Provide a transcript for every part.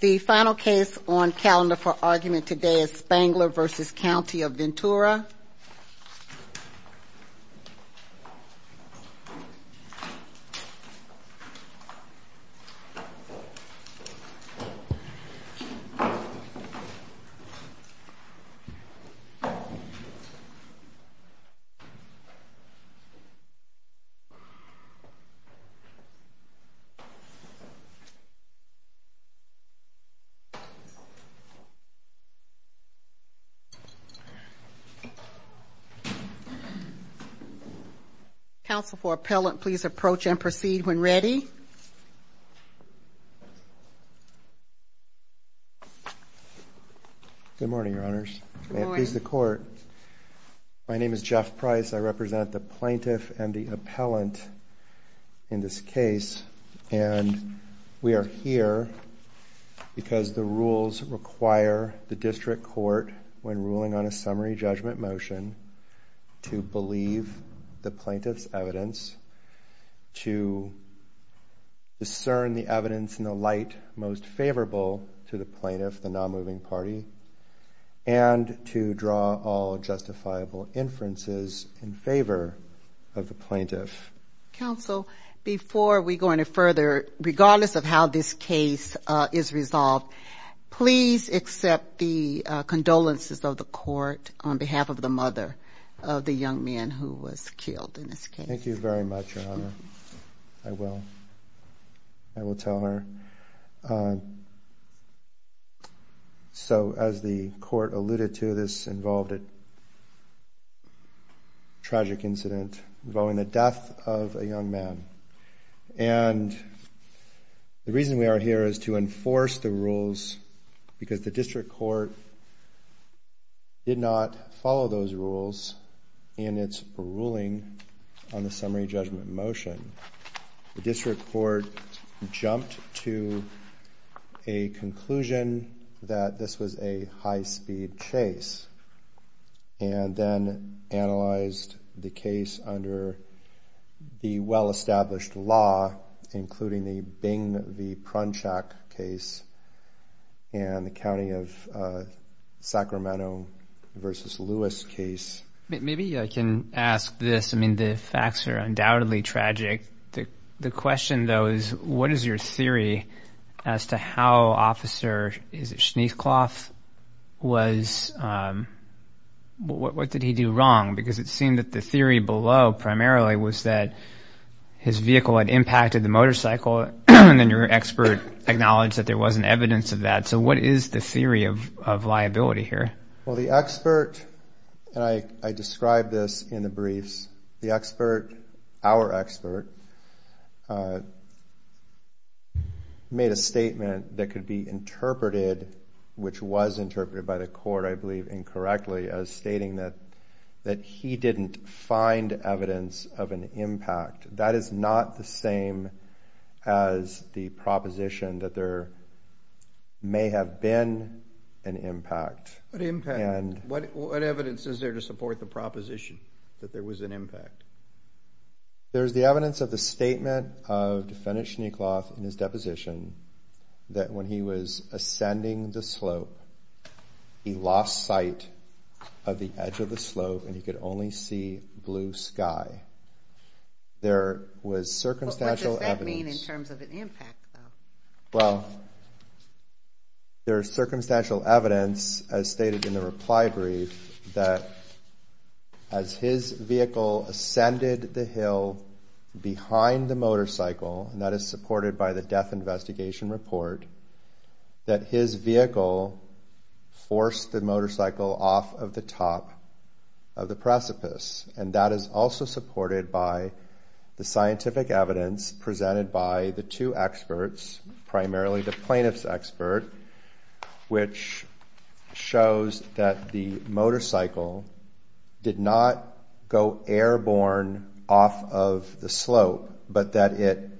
The final case on calendar for argument today is Spangler v. County of Ventura. Counsel for Appellant, please approach and proceed when ready. Good morning, Your Honors. May it please the Court? My name is Jeff Price. I represent the plaintiff and the appellant in this case. And we are here because the rules require the District Court, when ruling on a summary judgment motion, to believe the plaintiff's evidence, to discern the evidence in the light most favorable to the plaintiff, the non-moving party, and to draw all justifiable inferences in favor of the plaintiff. Counsel, before we go any further, regardless of how this case is resolved, please accept the condolences of the Court on behalf of the mother of the young man who was killed in this case. Thank you very much, Your Honor. I will. I will tell her. So, as the Court alluded to, this involved a tragic incident involving the death of a young man. And the reason we are here is to enforce the rules because the District Court did not follow those rules in its ruling on the summary judgment motion. The District Court jumped to a conclusion that this was a high-speed chase and then analyzed the case under the well-established law, including the Bing v. Prunchak case and the County of Sacramento v. Lewis case. Maybe I can ask this. I mean, the facts are undoubtedly tragic. The question, though, is what is your theory as to how Officer, is it Schneecloth, was, what did he do wrong? Because it seemed that the theory below primarily was that his vehicle had impacted the motorcycle and then your expert acknowledged that there wasn't evidence of that. So what is the theory of liability here? Well, the expert, and I described this in the briefs, the expert, our expert, made a statement that could be interpreted, which was interpreted by the Court, I believe incorrectly, as stating that he didn't find evidence of an impact. That is not the same as the proposition that there may have been an impact. What impact? What evidence is there to support the proposition that there was an impact? There's the evidence of the statement of Defendant Schneecloth in his deposition that when he was ascending the slope, he lost sight of the edge of the slope and he could only see blue sky. There was circumstantial evidence. But what does that mean in terms of an impact, though? Well, there is circumstantial evidence, as stated in the reply brief, that as his vehicle ascended the hill behind the motorcycle, and that is supported by the death investigation report, that his vehicle forced the motorcycle off of the top of the precipice. And that is also supported by the scientific evidence presented by the two experts, primarily the plaintiff's expert, which shows that the motorcycle did not go airborne off of the slope, but that it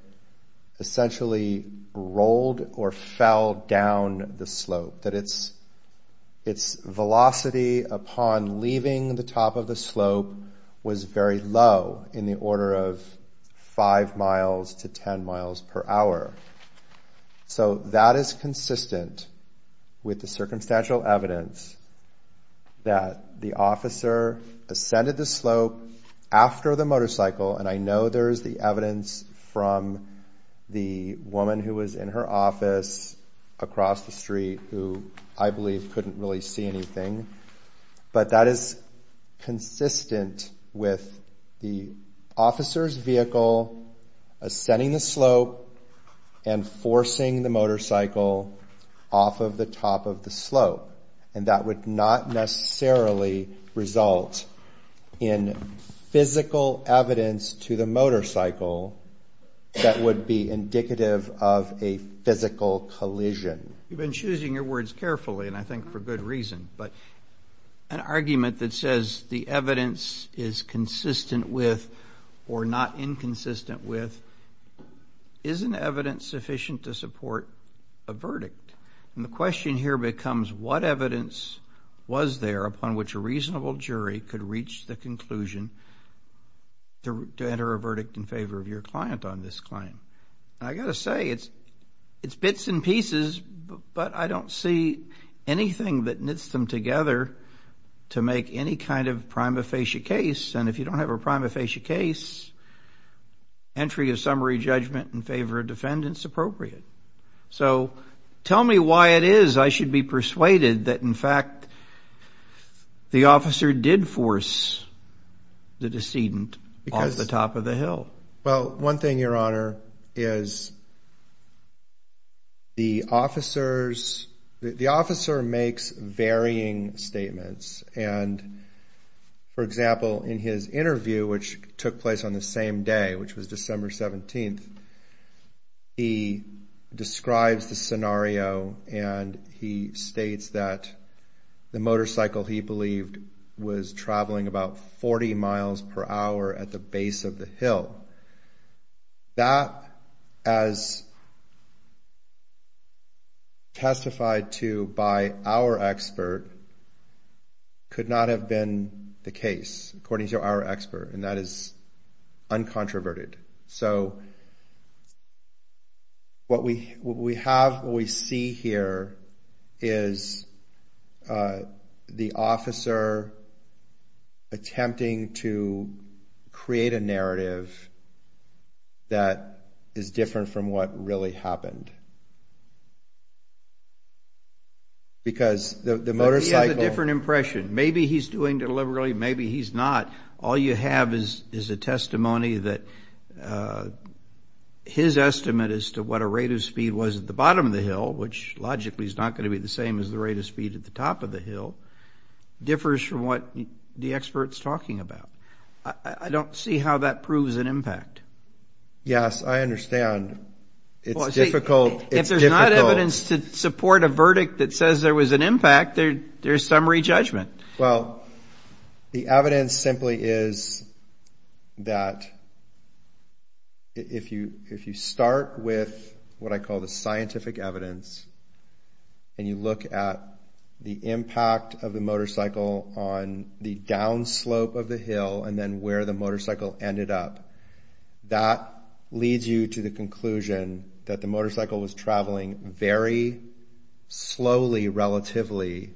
essentially rolled or fell down the slope. That its velocity upon leaving the top of the slope was very low, in the order of 5 miles to 10 miles per hour. So that is consistent with the circumstantial evidence that the officer ascended the slope after the motorcycle, and I know there is the evidence from the woman who was in her office across the street who I believe couldn't really see anything. But that is consistent with the officer's vehicle ascending the slope and forcing the motorcycle off of the top of the slope. And that would not necessarily result in physical evidence to the motorcycle that would be indicative of a physical collision. You've been choosing your words carefully, and I think for good reason. But an argument that says the evidence is consistent with or not inconsistent with isn't evidence sufficient to support a verdict. And the question here becomes what evidence was there upon which a reasonable jury could reach the conclusion to enter a verdict in favor of your client on this claim. And I've got to say, it's bits and pieces, but I don't see anything that knits them together to make any kind of prima facie case, and if you don't have a prima facie case, entry of summary judgment in favor of defendants appropriate. So tell me why it is I should be persuaded that, in fact, the officer did force the decedent off the top of the hill. Well, one thing, Your Honor, is the officer makes varying statements. And, for example, in his interview, which took place on the same day, which was December 17th, he describes the scenario and he states that the motorcycle, he believed, was traveling about 40 miles per hour at the base of the hill. That, as testified to by our expert, could not have been the case, according to our expert, and that is uncontroverted. So what we have, what we see here, is the officer attempting to create a narrative that is different from what really happened. Because the motorcycle- But he has a different impression. Maybe he's doing it deliberately. Maybe he's not. All you have is a testimony that his estimate as to what a rate of speed was at the bottom of the hill, which logically is not going to be the same as the rate of speed at the top of the hill, differs from what the expert's talking about. I don't see how that proves an impact. Yes, I understand. It's difficult. If there's not evidence to support a verdict that says there was an impact, there's some re-judgment. Well, the evidence simply is that if you start with what I call the scientific evidence and you look at the impact of the motorcycle on the downslope of the hill and then where the motorcycle ended up, that leads you to the conclusion that the motorcycle was traveling very slowly relatively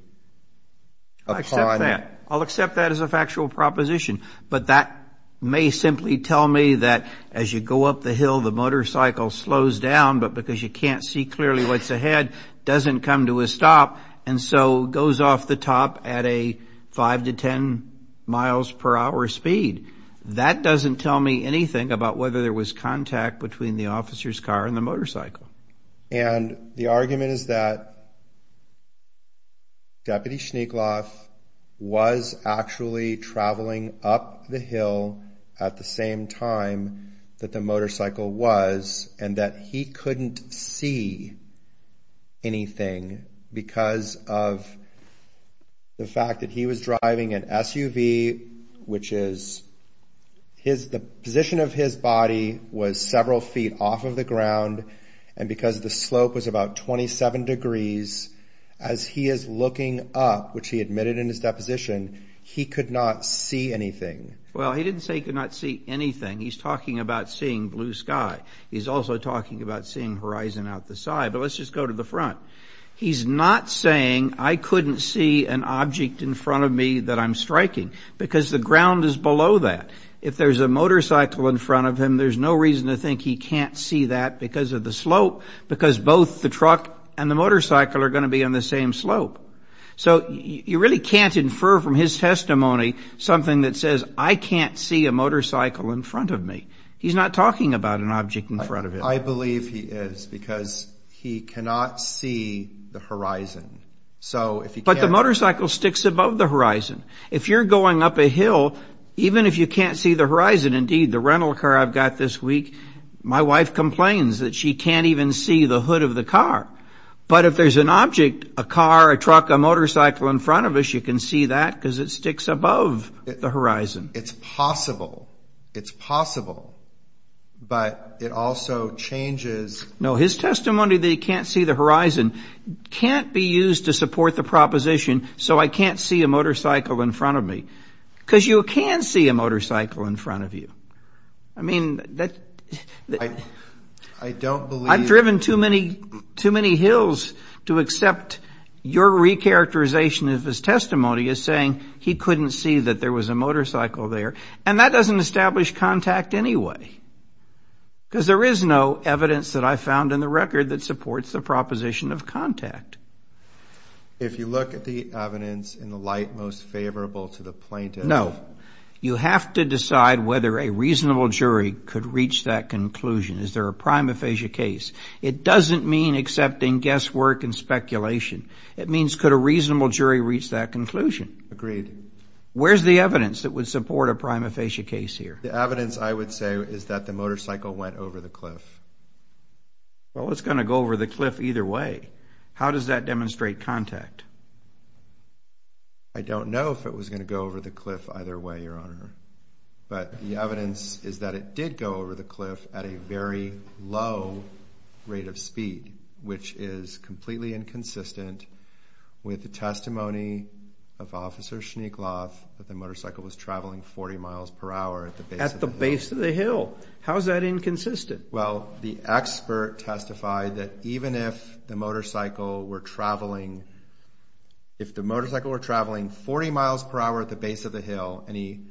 upon- I'll accept that. I'll accept that as a factual proposition. But that may simply tell me that as you go up the hill, the motorcycle slows down, but because you can't see clearly what's ahead, doesn't come to a stop, and so goes off the top at a 5 to 10 miles per hour speed. That doesn't tell me anything about whether there was contact between the officer's car and the motorcycle. And the argument is that Deputy Schneekloff was actually traveling up the hill at the same time that the motorcycle was and that he couldn't see anything because of the fact that he was driving an SUV, which is the position of his body was several feet off of the ground and because the slope was about 27 degrees, as he is looking up, which he admitted in his deposition, he could not see anything. Well, he didn't say he could not see anything. He's talking about seeing blue sky. He's also talking about seeing horizon out the side. But let's just go to the front. He's not saying I couldn't see an object in front of me that I'm striking. Because the ground is below that. If there's a motorcycle in front of him, there's no reason to think he can't see that because of the slope, because both the truck and the motorcycle are going to be on the same slope. So you really can't infer from his testimony something that says I can't see a motorcycle in front of me. He's not talking about an object in front of him. I believe he is because he cannot see the horizon. But the motorcycle sticks above the horizon. If you're going up a hill, even if you can't see the horizon, indeed, the rental car I've got this week, my wife complains that she can't even see the hood of the car. But if there's an object, a car, a truck, a motorcycle in front of us, you can see that because it sticks above the horizon. It's possible. It's possible. But it also changes. No, his testimony that he can't see the horizon can't be used to support the proposition so I can't see a motorcycle in front of me. Because you can see a motorcycle in front of you. I mean, I've driven too many hills to accept your recharacterization of his testimony as saying he couldn't see that there was a motorcycle there. And that doesn't establish contact anyway because there is no evidence that I found in the record that supports the proposition of contact. If you look at the evidence in the light most favorable to the plaintiff. No. You have to decide whether a reasonable jury could reach that conclusion. Is there a prima facie case? It doesn't mean accepting guesswork and speculation. It means could a reasonable jury reach that conclusion? Agreed. Where's the evidence that would support a prima facie case here? The evidence, I would say, is that the motorcycle went over the cliff. Well, it's going to go over the cliff either way. How does that demonstrate contact? I don't know if it was going to go over the cliff either way, Your Honor. But the evidence is that it did go over the cliff at a very low rate of speed, which is completely inconsistent with the testimony of Officer Schneekloff that the motorcycle was traveling 40 miles per hour at the base of the hill. At the base of the hill. How is that inconsistent? Well, the expert testified that even if the motorcycle were traveling 40 miles per hour at the base of the hill and he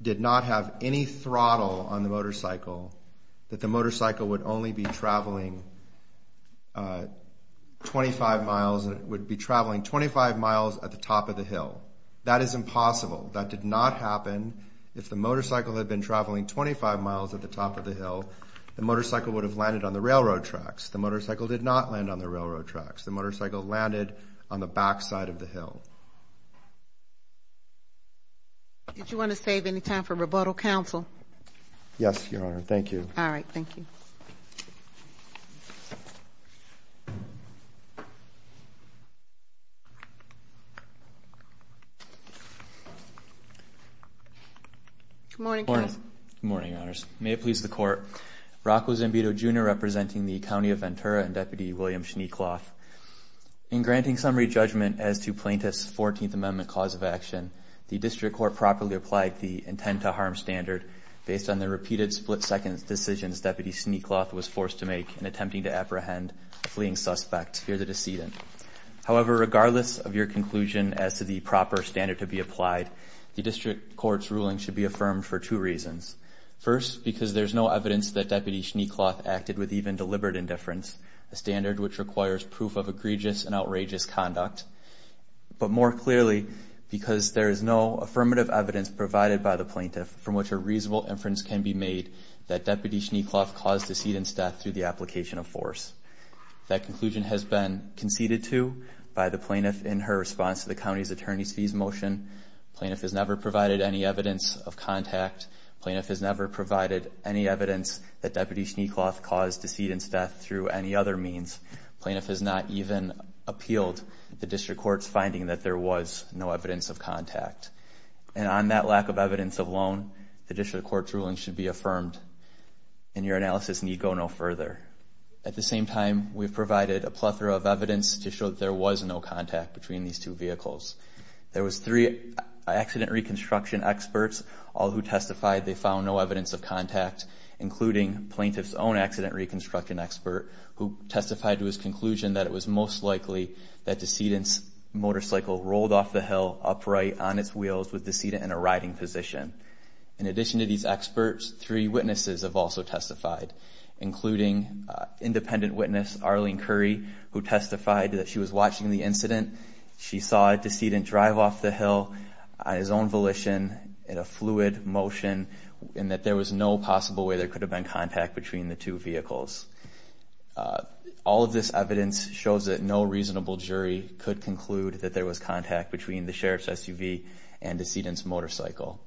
did not have any throttle on the motorcycle, that the motorcycle would only be traveling 25 miles at the top of the hill. That is impossible. That did not happen. If the motorcycle had been traveling 25 miles at the top of the hill, the motorcycle would have landed on the railroad tracks. The motorcycle did not land on the railroad tracks. The motorcycle landed on the back side of the hill. Did you want to save any time for rebuttal, counsel? Yes, Your Honor. Thank you. All right. Thank you. Good morning, counsel. Good morning, Your Honors. May it please the Court. Rocco Zambito, Jr. representing the County of Ventura and Deputy William Schneekloff. In granting summary judgment as to Plaintiff's 14th Amendment cause of action, the District Court properly applied the intent to harm standard based on the repeated split-second decisions Deputy Schneekloff was forced to make in attempting to apprehend a fleeing suspect, here the decedent. However, regardless of your conclusion as to the proper standard to be applied, the District Court's ruling should be affirmed for two reasons. First, because there's no evidence that Deputy Schneekloff acted with even deliberate indifference, a standard which requires proof of egregious and outrageous conduct. But more clearly, because there is no affirmative evidence provided by the plaintiff from which a reasonable inference can be made that Deputy Schneekloff caused decedent's death through the application of force. That conclusion has been conceded to by the plaintiff in her response to the county's attorney's fees motion. The plaintiff has never provided any evidence of contact. The plaintiff has never provided any evidence that Deputy Schneekloff caused decedent's death through any other means. The plaintiff has not even appealed the District Court's finding that there was no evidence of contact. And on that lack of evidence alone, the District Court's ruling should be affirmed and your analysis need go no further. At the same time, we've provided a plethora of evidence to show that there was no contact between these two vehicles. There was three accident reconstruction experts, all who testified they found no evidence of contact, including plaintiff's own accident reconstruction expert, who testified to his conclusion that it was most likely that decedent's motorcycle rolled off the hill upright on its wheels with decedent in a riding position. In addition to these experts, three witnesses have also testified, including independent witness Arlene Curry, who testified that she was watching the incident. She saw a decedent drive off the hill on his own volition in a fluid motion and that there was no possible way there could have been contact between the two vehicles. All of this evidence shows that no reasonable jury could conclude that there was contact between the sheriff's SUV and decedent's motorcycle.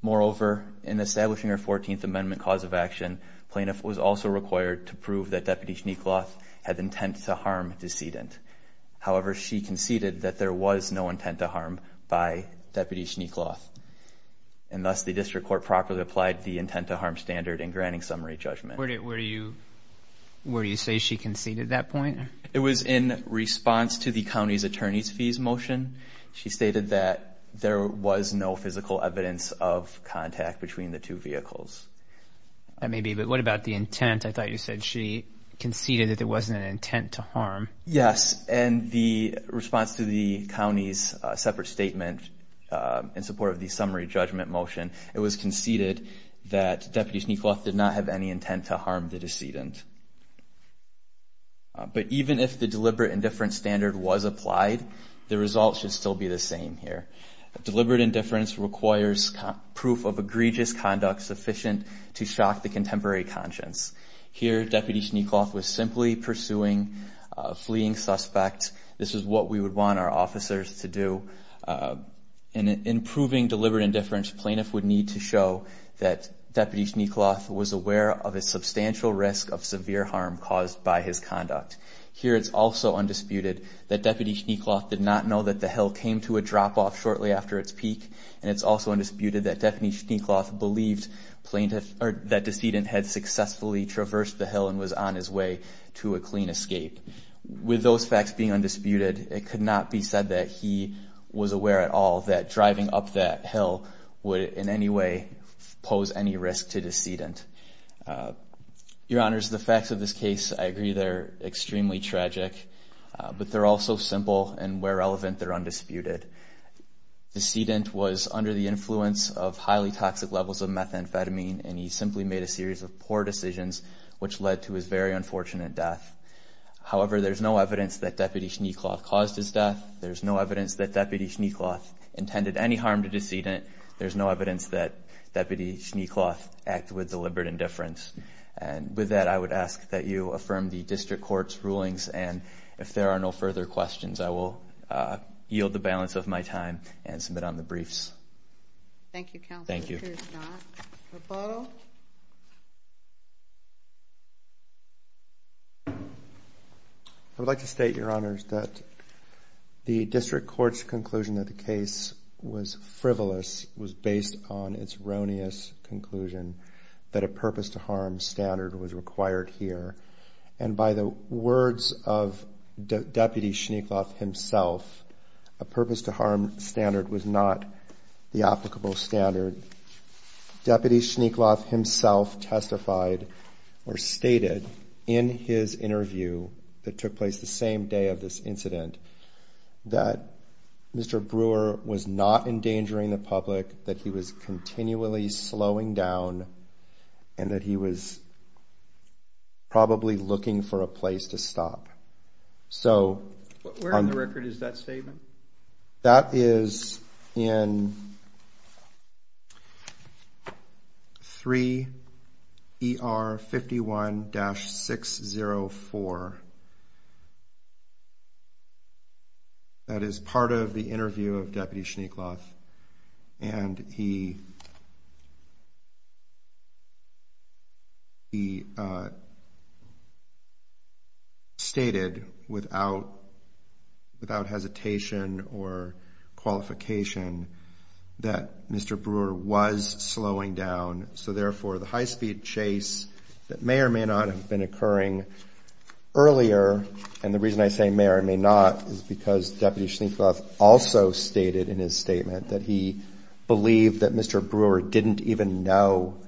Moreover, in establishing our 14th Amendment cause of action, plaintiff was also required to prove that Deputy Schneekloff had intent to harm decedent. However, she conceded that there was no intent to harm by Deputy Schneekloff. And thus the district court properly applied the intent to harm standard in granting summary judgment. Where do you say she conceded that point? It was in response to the county's attorney's fees motion. She stated that there was no physical evidence of contact between the two vehicles. That may be, but what about the intent? I thought you said she conceded that there wasn't an intent to harm. Yes, and the response to the county's separate statement in support of the summary judgment motion, it was conceded that Deputy Schneekloff did not have any intent to harm the decedent. But even if the deliberate indifference standard was applied, the results should still be the same here. Deliberate indifference requires proof of egregious conduct sufficient to shock the contemporary conscience. Here Deputy Schneekloff was simply pursuing a fleeing suspect. This is what we would want our officers to do. In proving deliberate indifference, plaintiff would need to show that Deputy Schneekloff was aware of a substantial risk of severe harm caused by his conduct. Here it's also undisputed that Deputy Schneekloff did not know that the hill came to a drop-off shortly after its peak. And it's also undisputed that Deputy Schneekloff believed that decedent had successfully traversed the hill and was on his way to a clean escape. With those facts being undisputed, it could not be said that he was aware at all that driving up that hill would in any way pose any risk to decedent. Your Honors, the facts of this case, I agree, they're extremely tragic. But they're also simple, and where relevant, they're undisputed. Decedent was under the influence of highly toxic levels of methamphetamine, and he simply made a series of poor decisions which led to his very unfortunate death. However, there's no evidence that Deputy Schneekloff caused his death. There's no evidence that Deputy Schneekloff intended any harm to decedent. There's no evidence that Deputy Schneekloff acted with deliberate indifference. And with that, I would ask that you affirm the District Court's rulings. And if there are no further questions, I will yield the balance of my time and submit on the briefs. Thank you, Counselor. Thank you. Here's John. Repodo. I would like to state, Your Honors, that the District Court's conclusion that the case was frivolous was based on its erroneous conclusion that a purpose-to-harm standard was required here. And by the words of Deputy Schneekloff himself, a purpose-to-harm standard was not the applicable standard. Deputy Schneekloff himself testified or stated in his interview that took place the same day of this incident that Mr. Brewer was not endangering the public, that he was continually slowing down, and that he was probably looking for a place to stop. Where in the record is that statement? That is in 3 ER 51-604. That is part of the interview of Deputy Schneekloff. And he stated without hesitation or qualification that Mr. Brewer was slowing down, so therefore the high-speed chase that may or may not have been occurring earlier, and the reason I say may or may not is because Deputy Schneekloff also stated in his statement that he believed that Mr. Brewer didn't even know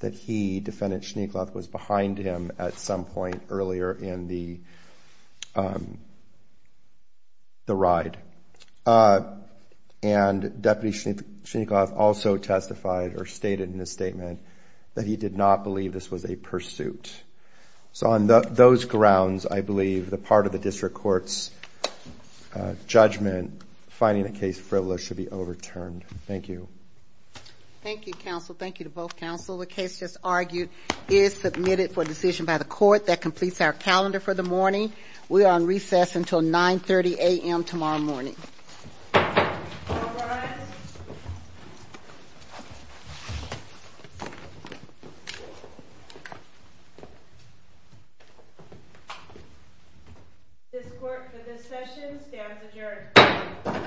that he, Defendant Schneekloff, was behind him at some point earlier in the ride. And Deputy Schneekloff also testified or stated in his statement that he did not believe this was a pursuit. So on those grounds, I believe the part of the district court's judgment finding the case frivolous should be overturned. Thank you. Thank you, counsel. Thank you to both counsel. The case just argued is submitted for decision by the court. That completes our calendar for the morning. We are on recess until 930 a.m. tomorrow morning. All rise. This court for this session stands adjourned.